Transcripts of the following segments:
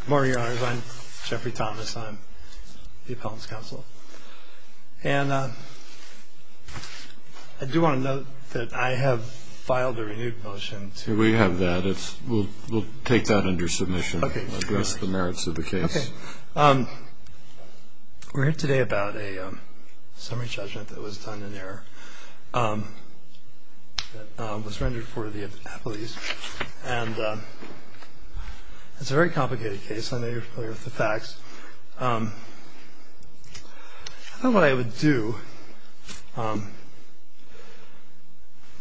Good morning, Your Honors. I'm Jeffrey Thomas. I'm the Appellant's Counsel. And I do want to note that I have filed a renewed motion to- We have that. We'll take that under submission and address the merits of the case. Okay. We're here today about a summary judgment that was done in error that was rendered for the appellees. And it's a very complicated case. I know you're familiar with the facts. I thought what I would do to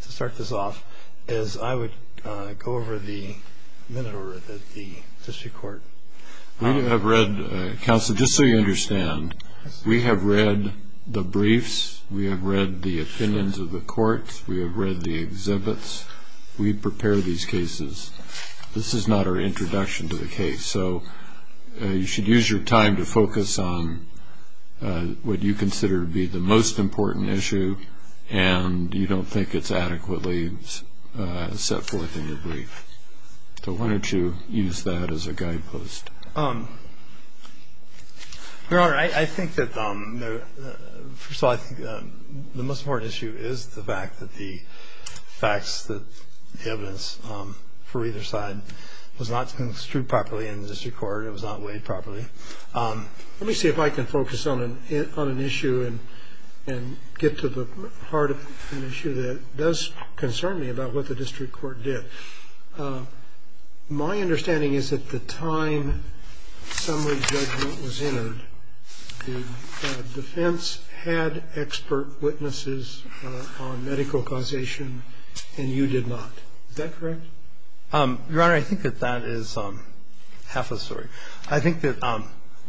start this off is I would go over the minute order that the district court- We have read- Counsel, just so you understand, we have read the briefs. We have read the opinions of the courts. We have read the exhibits. We prepare these cases. This is not our introduction to the case. So you should use your time to focus on what you consider to be the most important issue, and you don't think it's adequately set forth in your brief. So why don't you use that as a guidepost? Your Honor, I think that, first of all, I think the most important issue is the fact that the facts, the evidence for either side was not construed properly in the district court. It was not weighed properly. Let me see if I can focus on an issue and get to the heart of an issue that does concern me about what the district court did. My understanding is that the time summary judgment was entered, the defense had expert witnesses on medical causation, and you did not. Is that correct? Your Honor, I think that that is half a story. I think that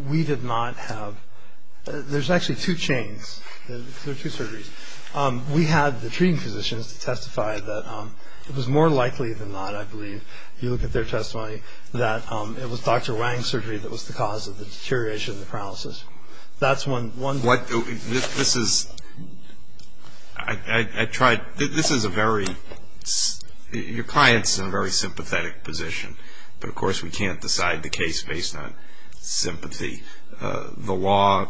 we did not have – there's actually two chains. There are two surgeries. We had the treating physicians to testify that it was more likely than not, I believe, if you look at their testimony, that it was Dr. Wang's surgery that was the cause of the deterioration of the paralysis. That's one – What – this is – I tried – this is a very – your client's in a very sympathetic position, but, of course, we can't decide the case based on sympathy. The law,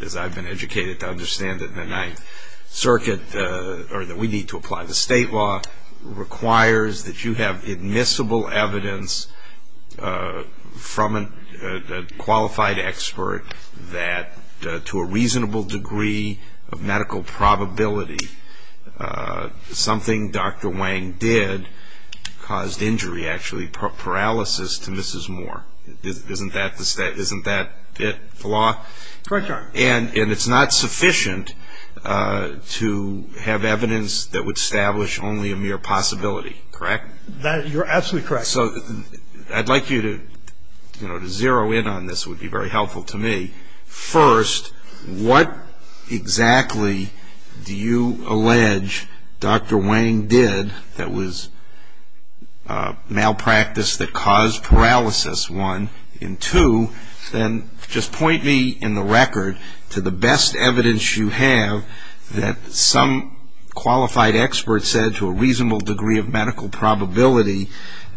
as I've been educated to understand it in the Ninth Circuit, or that we need to apply to state law, requires that you have admissible evidence from a qualified expert that, to a reasonable degree of medical probability, something Dr. Wang did caused injury, actually paralysis, to Mrs. Moore. Isn't that the – isn't that it, the law? Correct, Your Honor. And it's not sufficient to have evidence that would establish only a mere possibility, correct? You're absolutely correct. So I'd like you to – you know, to zero in on this would be very helpful to me. First, what exactly do you allege Dr. Wang did that was malpractice that caused paralysis? One. And two, then just point me in the record to the best evidence you have that some qualified expert said to a reasonable degree of medical probability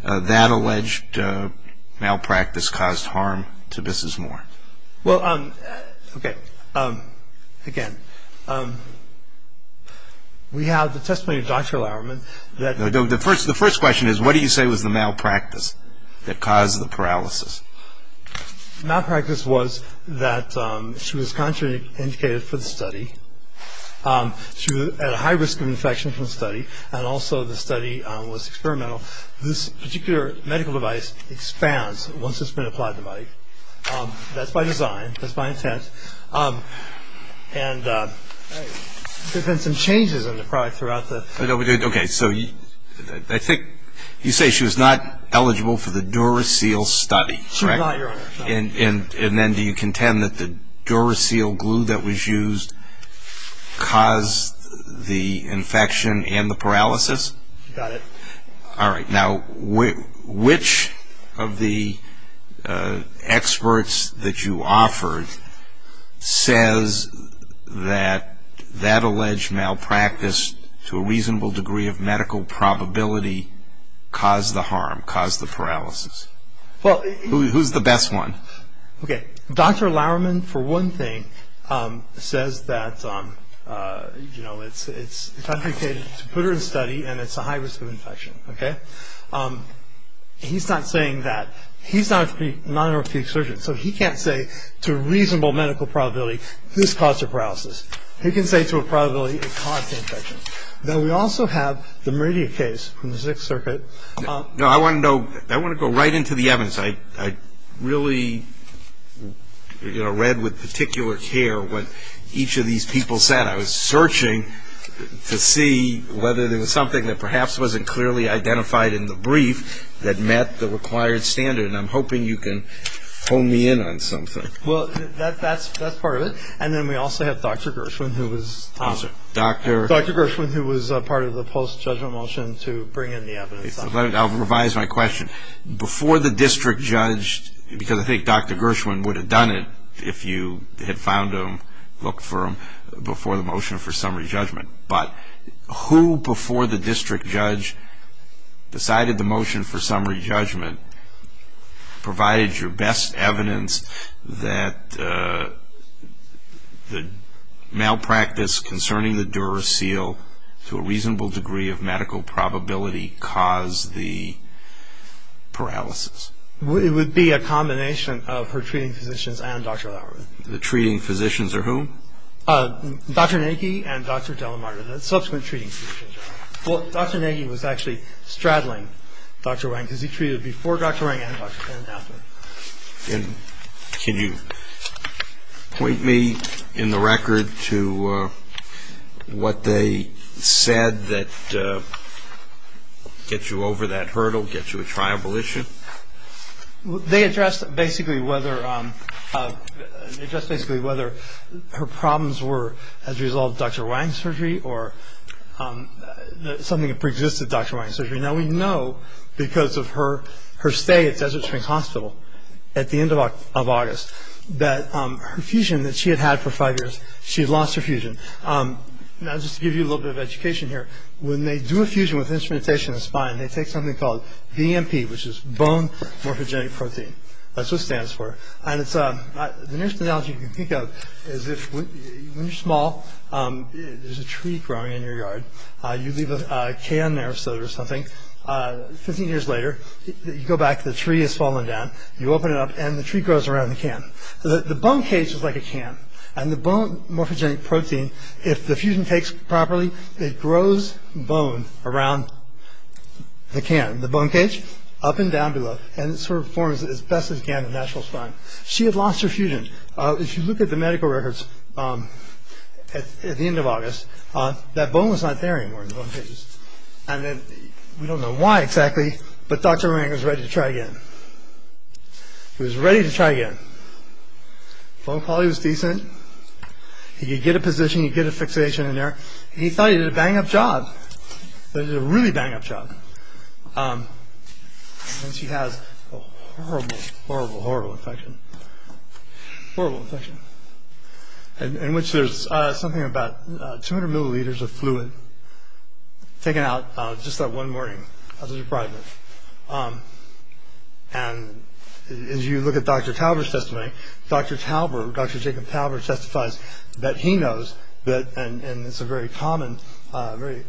that alleged malpractice caused harm to Mrs. Moore. Well, okay. Again, we have the testimony of Dr. Lowerman that – Malpractice was that she was contraindicated for the study. She was at a high risk of infection from the study, and also the study was experimental. This particular medical device expands once it's been applied to the body. That's by design. That's by intent. And there have been some changes in the product throughout the – Okay, so I think you say she was not eligible for the Duracell study, correct? She was not, Your Honor. And then do you contend that the Duracell glue that was used caused the infection and the paralysis? She got it. All right. Now, which of the experts that you offered says that that alleged malpractice, to a reasonable degree of medical probability, caused the harm, caused the paralysis? Who's the best one? Okay. Dr. Lowerman, for one thing, says that it's contraindicated to put her in study and it's a high risk of infection, okay? He's not saying that. He's not an orthopedic surgeon, so he can't say to a reasonable medical probability this caused her paralysis. He can say to a probability it caused the infection. Now, we also have the Meridia case from the Sixth Circuit. No, I want to know – I want to go right into the evidence. I really, you know, read with particular care what each of these people said. And I was searching to see whether there was something that perhaps wasn't clearly identified in the brief that met the required standard, and I'm hoping you can hone me in on something. Well, that's part of it. And then we also have Dr. Gershwin, who was part of the post-judgment motion to bring in the evidence. I'll revise my question. Before the district judged, because I think Dr. Gershwin would have done it if you had found him, looked for him before the motion for summary judgment. But who before the district judge decided the motion for summary judgment provided your best evidence that the malpractice concerning the Duracell to a reasonable degree of medical probability caused the paralysis? It would be a combination of her treating physicians and Dr. Lauer. The treating physicians are whom? Dr. Nagy and Dr. Delamarda, the subsequent treating physicians. Well, Dr. Nagy was actually straddling Dr. Wang because he treated before Dr. Wang and Dr. Delamarda. Can you point me in the record to what they said that gets you over that hurdle, gets you a triable issue? They addressed basically whether her problems were as a result of Dr. Wang's surgery or something that preexisted Dr. Wang's surgery. Now, we know because of her stay at Desert Shrink Hospital at the end of August that her fusion that she had had for five years, she had lost her fusion. Now, just to give you a little bit of education here, they take something called BMP, which is bone morphogenic protein. That's what it stands for. The nearest analogy you can think of is when you're small, there's a tree growing in your yard. You leave a can there or something. Fifteen years later, you go back. The tree has fallen down. You open it up, and the tree grows around the can. The bone cage is like a can, and the bone morphogenic protein, if the fusion takes properly, it grows bone around the can, the bone cage, up and down below, and it sort of forms as best as can a natural spine. She had lost her fusion. If you look at the medical records at the end of August, that bone was not there anymore in the bone cage. We don't know why exactly, but Dr. Wang was ready to try again. Bone quality was decent. He could get a position. He could get a fixation in there. He thought he did a bang-up job. He did a really bang-up job. He has a horrible, horrible, horrible infection, horrible infection, in which there's something about 200 milliliters of fluid taken out just that one morning of his reprieve. As you look at Dr. Talbert's testimony, Dr. Jacob Talbert testifies that he knows, and it's a very common, very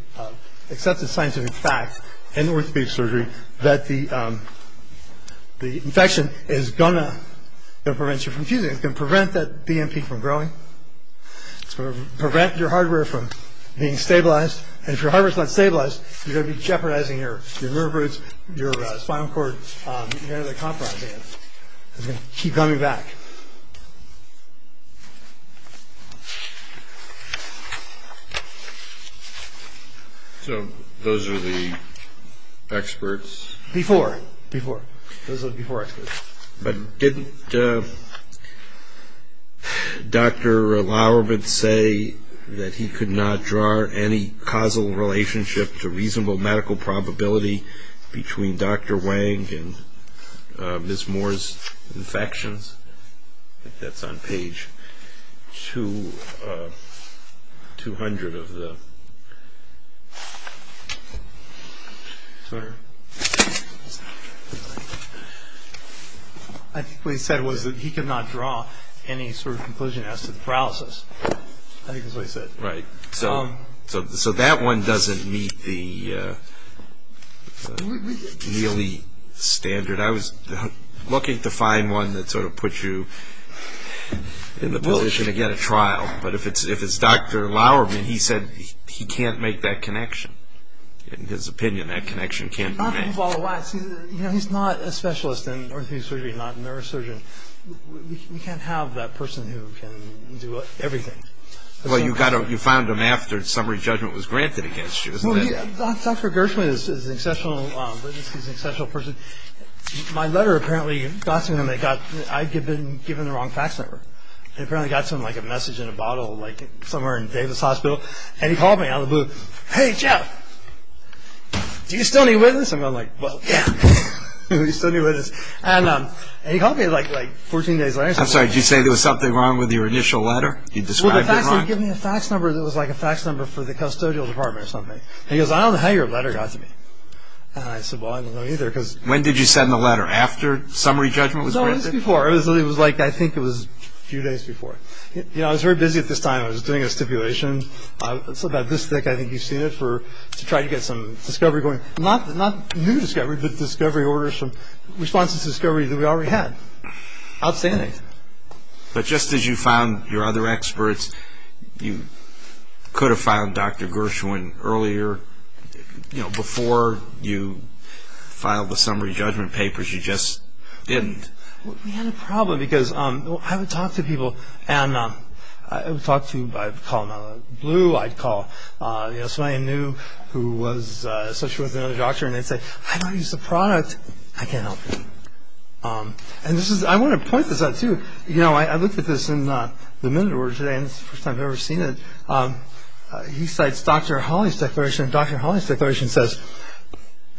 accepted scientific fact in orthopedic surgery, that the infection is going to prevent you from fusing. It's going to prevent that BMP from growing. It's going to prevent your hardware from being stabilized, and if your hardware is not stabilized, you're going to be jeopardizing your nerve roots, your spinal cord, you're going to be compromising it. It's going to keep coming back. So those are the experts? Before, before. Those are the before experts. But didn't Dr. Lauerwitz say that he could not draw any causal relationship to reasonable medical probability between Dr. Wang and Ms. Moore's infections? That's on page 200 of the... Sorry. What he said was that he could not draw any sort of conclusion as to the paralysis. I think that's what he said. Right. So that one doesn't meet the nearly standard. I was looking to find one that sort of puts you in the position to get a trial, but if it's Dr. Lauerwitz, he said he can't make that connection. In his opinion, that connection can't be made. He's not a specialist in orthopedic surgery, not a neurosurgeon. We can't have that person who can do everything. Well, you found him after summary judgment was granted against you. Dr. Gershwin is an exceptional witness. He's an exceptional person. My letter apparently got to him. I'd given the wrong fax number. It apparently got to him like a message in a bottle somewhere in Davis Hospital, and he called me out of the blue, and he said, hey, Jeff, do you still need a witness? And I'm like, well, yeah, do you still need a witness? And he called me like 14 days later. I'm sorry, did you say there was something wrong with your initial letter? You described it wrong. Well, the fax, he gave me a fax number. It was like a fax number for the custodial department or something. He goes, I don't know how your letter got to me. And I said, well, I don't know either because. When did you send the letter? After summary judgment was granted? No, it was before. It was like I think it was a few days before. You know, I was very busy at this time. I was doing a stipulation. It's about this thick, I think you've seen it, to try to get some discovery going. Not new discovery, but discovery orders from responses to discovery that we already had. Outstanding. But just as you found your other experts, you could have found Dr. Gershwin earlier. You know, before you filed the summary judgment papers, you just didn't. We had a problem because I would talk to people, and I would talk to, I'd call them out of the blue. I'd call somebody I knew who was associated with another doctor, and they'd say, I don't use the product. I can't help you. And this is, I want to point this out, too. You know, I looked at this in the minute order today, and it's the first time I've ever seen it. He cites Dr. Hawley's declaration, and Dr. Hawley's declaration says,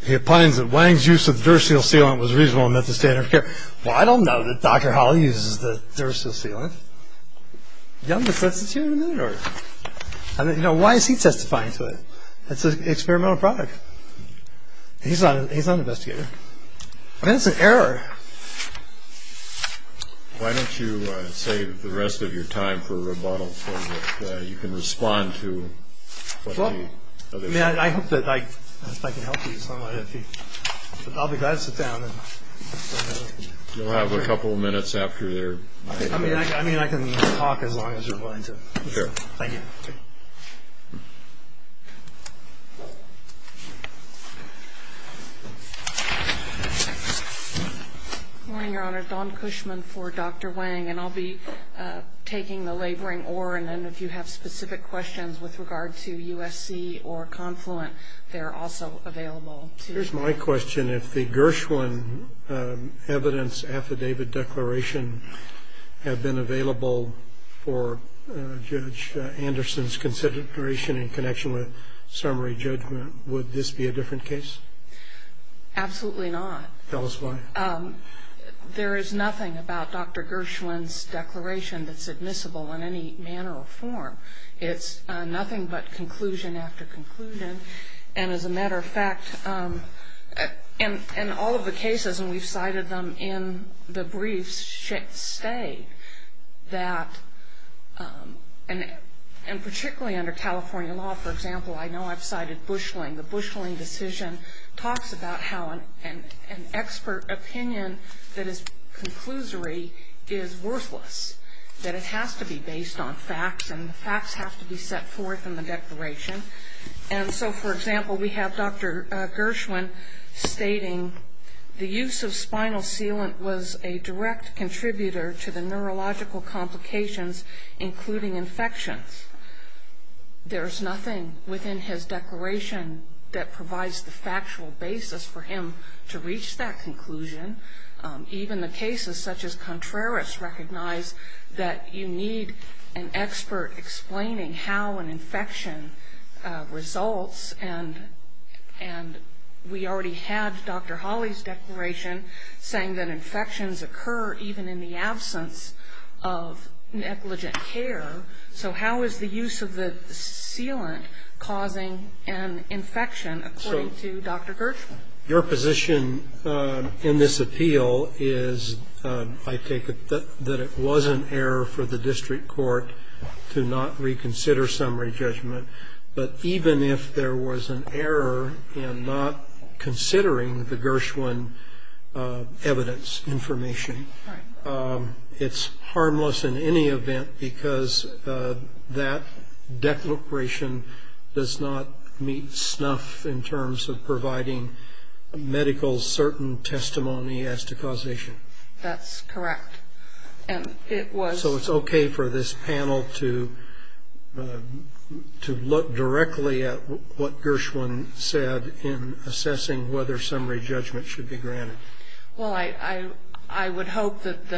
he opines that Wang's use of the Duracell sealant was reasonable and met the standard of care. Well, I don't know that Dr. Hawley uses the Duracell sealant. Young, but that's a two-minute order. You know, why is he testifying to it? It's an experimental product. He's not an investigator. I mean, it's an error. Why don't you save the rest of your time for a rebuttal, so that you can respond to what the other people... Well, I mean, I hope that I can help you somehow. I'll be glad to sit down. You'll have a couple of minutes after your... I mean, I can talk as long as you're willing to. Sure. Thank you. Good morning, Your Honor. Dawn Cushman for Dr. Wang, and I'll be taking the laboring oar, and then if you have specific questions with regard to USC or Confluent, they're also available to... Here's my question. If the Gershwin evidence affidavit declaration had been available for Judge Anderson's consideration in connection with summary judgment, would this be a different case? Absolutely not. Tell us why. There is nothing about Dr. Gershwin's declaration that's admissible in any manner or form. It's nothing but conclusion after conclusion. And as a matter of fact, in all of the cases, and we've cited them in the briefs, should say that, and particularly under California law, for example, I know I've cited Bushling. The Bushling decision talks about how an expert opinion that is conclusory is worthless, that it has to be based on facts, and the facts have to be set forth in the declaration. And so, for example, we have Dr. Gershwin stating the use of spinal sealant was a direct contributor to the neurological complications, including infections. There is nothing within his declaration that provides the factual basis for him to reach that conclusion. Even the cases such as Contreras recognize that you need an expert explaining how an infection results, and we already had Dr. Hawley's declaration saying that infections occur even in the absence of negligent care. So how is the use of the sealant causing an infection, according to Dr. Gershwin? Your position in this appeal is, I take it, that it was an error for the district court to not reconsider summary judgment. But even if there was an error in not considering the Gershwin evidence information, it's harmless in any event because that declaration does not meet snuff in terms of providing medical certain testimony as to causation. That's correct. So it's okay for this panel to look directly at what Gershwin said in assessing whether summary judgment should be granted. Well, I would hope that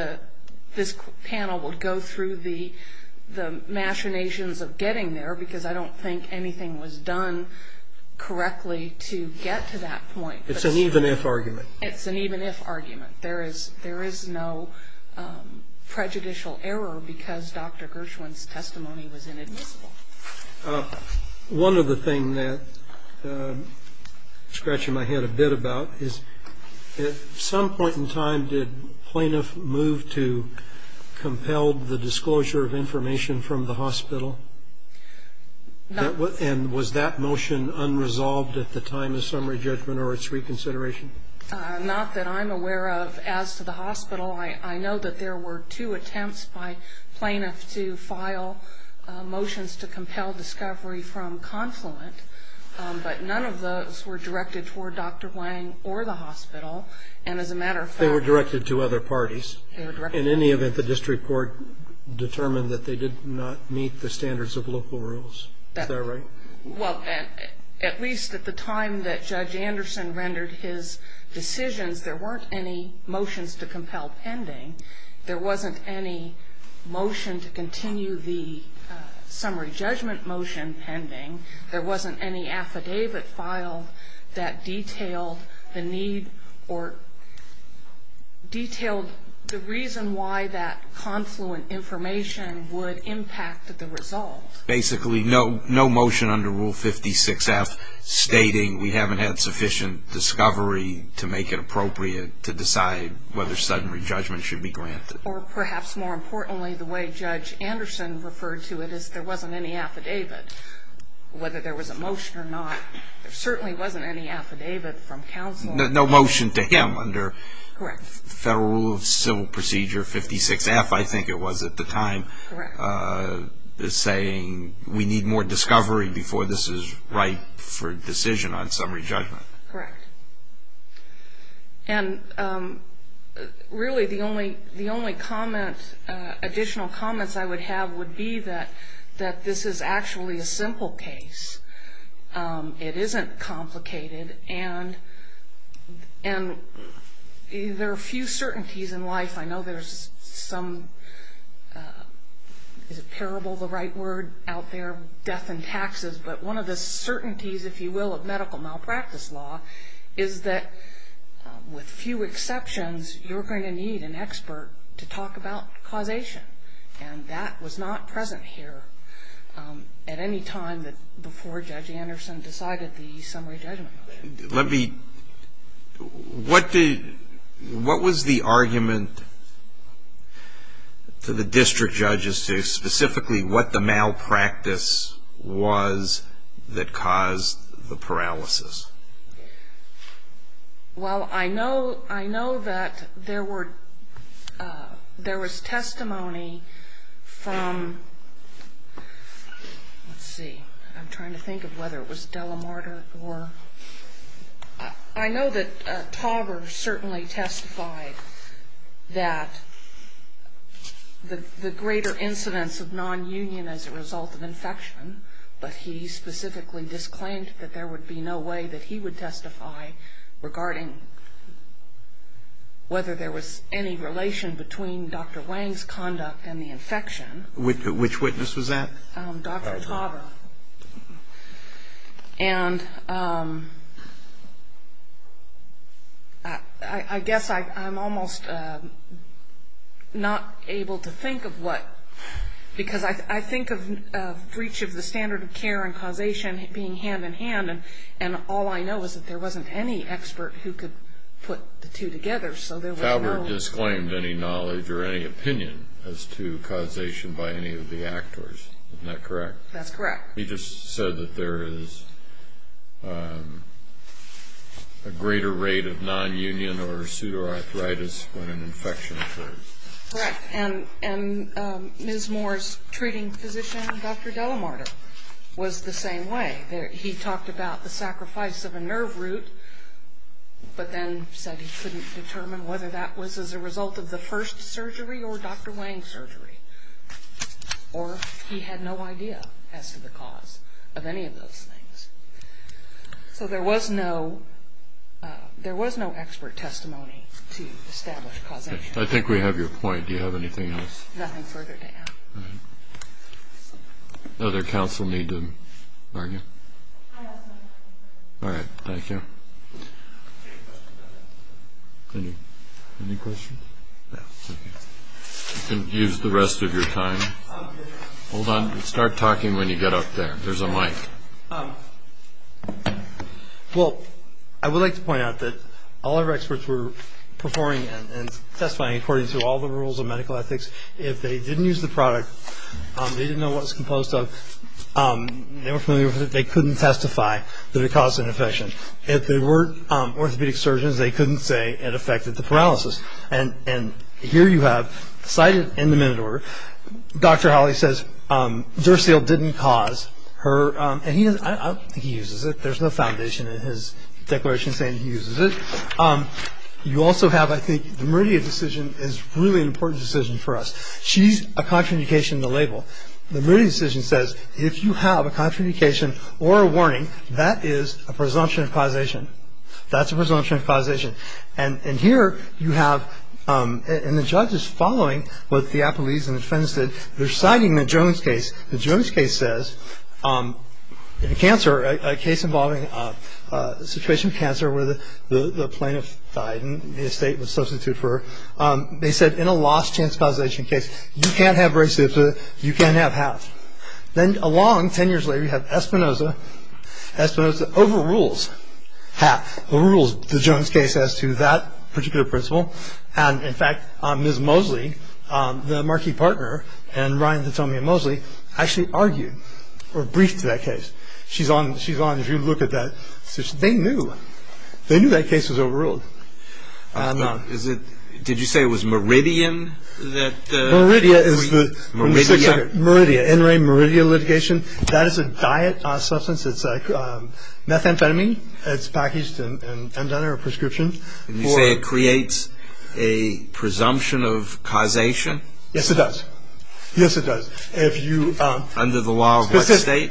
this panel would go through the machinations of getting there because I don't think anything was done correctly to get to that point. It's an even-if argument. It's an even-if argument. There is no prejudicial error because Dr. Gershwin's testimony was inadmissible. One of the things that I'm scratching my head a bit about is, at some point in time did plaintiff move to compel the disclosure of information from the hospital? And was that motion unresolved at the time of summary judgment or its reconsideration? Not that I'm aware of. As to the hospital, I know that there were two attempts by plaintiffs to file motions to compel discovery from confluent, but none of those were directed toward Dr. Wang or the hospital. And as a matter of fact- They were directed to other parties. In any event, the district court determined that they did not meet the standards of local rules. Is that right? Well, at least at the time that Judge Anderson rendered his decisions, there weren't any motions to compel pending. There wasn't any motion to continue the summary judgment motion pending. There wasn't any affidavit filed that detailed the need or detailed the reason why that confluent information would impact the result. Basically, no motion under Rule 56F stating we haven't had sufficient discovery to make it appropriate to decide whether summary judgment should be granted. Or perhaps more importantly, the way Judge Anderson referred to it is there wasn't any affidavit. Whether there was a motion or not, there certainly wasn't any affidavit from counsel. No motion to him under Federal Rule of Civil Procedure 56F, I think it was at the time, saying we need more discovery before this is right for decision on summary judgment. Correct. And really, the only additional comments I would have would be that this is actually a simple case. It isn't complicated. And there are a few certainties in life. I know there's some, is a parable the right word out there, death and taxes, but one of the certainties, if you will, of medical malpractice law is that with few exceptions, you're going to need an expert to talk about causation. And that was not present here at any time before Judge Anderson decided the summary judgment motion. Let me, what was the argument to the district judges to specifically what the malpractice was that caused the paralysis? Well, I know that there were, there was testimony from, let's see, I'm trying to think of whether it was Delamarder or, I know that Tauber certainly testified that the greater incidence of nonunion as a result of infection, but he specifically disclaimed that there would be no way that he would testify regarding whether there was any relation between Dr. Wang's conduct and the infection. Which witness was that? Dr. Tauber. And I guess I'm almost not able to think of what, because I think of breach of the standard of care and causation being hand in hand, and all I know is that there wasn't any expert who could put the two together, so there was no... Isn't that correct? That's correct. He just said that there is a greater rate of nonunion or pseudoarthritis when an infection occurs. Correct. And Ms. Moore's treating physician, Dr. Delamarder, was the same way. He talked about the sacrifice of a nerve root, but then said he couldn't determine whether that was as a result of the first surgery or Dr. Wang's surgery. Or he had no idea as to the cause of any of those things. So there was no expert testimony to establish causation. I think we have your point. Do you have anything else? Nothing further to add. All right. Other counsel need to argue? I have nothing further to add. All right. Thank you. Any questions? No. Thank you. You can use the rest of your time. Hold on. Start talking when you get up there. There's a mic. Well, I would like to point out that all of our experts were performing and testifying according to all the rules of medical ethics. If they didn't use the product, they didn't know what it was composed of, they couldn't testify that it caused an infection. If they weren't orthopedic surgeons, they couldn't say it affected the paralysis. And here you have cited in the minute order, Dr. Hawley says, Dursil didn't cause her, and I don't think he uses it. There's no foundation in his declaration saying he uses it. You also have, I think, the Meridia decision is really an important decision for us. She's a contraindication in the label. The Meridia decision says, if you have a contraindication or a warning, that is a presumption of causation. That's a presumption of causation. And here you have, and the judge is following what the appellees and the defendants did. They're citing the Jones case. The Jones case says, in a case involving a situation of cancer where the plaintiff died and the estate was substituted for her, they said in a lost chance causation case, you can't have raciopto, you can't have half. Then along, ten years later, you have Espinosa. Espinosa overrules half, overrules the Jones case as to that particular principle. And, in fact, Ms. Mosley, the Marquis partner, and Ryan Thetomia Mosley, actually argued or briefed that case. She's on, if you look at that. They knew. They knew that case was overruled. Did you say it was Meridia that? Meridia is the, Meridia, in re Meridia litigation. That is a diet substance. It's like methamphetamine. It's packaged and under a prescription. Did you say it creates a presumption of causation? Yes, it does. Yes, it does. Under the law of what state?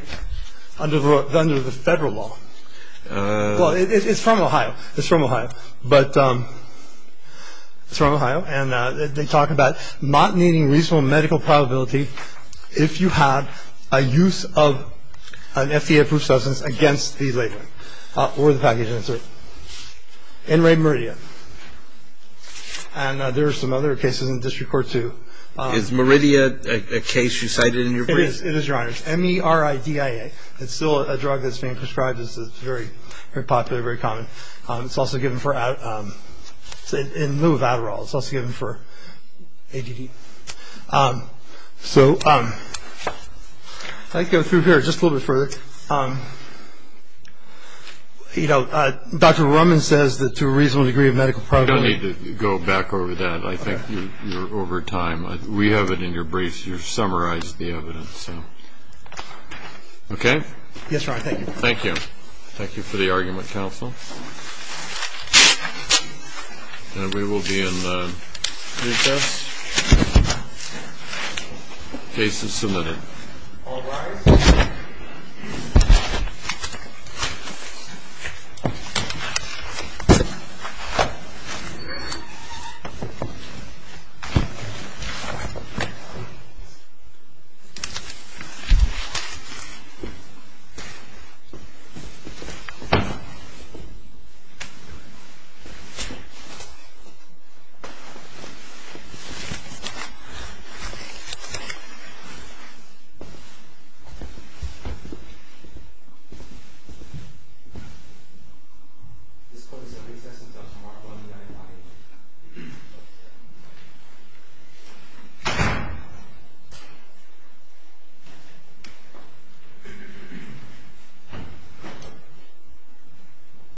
Under the federal law. Well, it's from Ohio. It's from Ohio. But, it's from Ohio. And, they talk about not needing reasonable medical probability if you have a use of an FDA-approved substance against the label or the package insert. In re Meridia. And, there are some other cases in District Court, too. Is Meridia a case you cited in your brief? It is, Your Honor. It's M-E-R-I-D-I-A. It's still a drug that's being prescribed. It's very popular, very common. It's also given for, in lieu of Adderall. It's also given for ADD. So, if I could go through here just a little bit further. You know, Dr. Roman says that to a reasonable degree of medical probability. You don't need to go back over that. I think you're over time. We have it in your briefs. You've summarized the evidence. Okay? Yes, Your Honor. Thank you. Thank you for the argument, counsel. And we will be in recess. Case is submitted. All rise. This court is on recess until tomorrow morning at 9 a.m.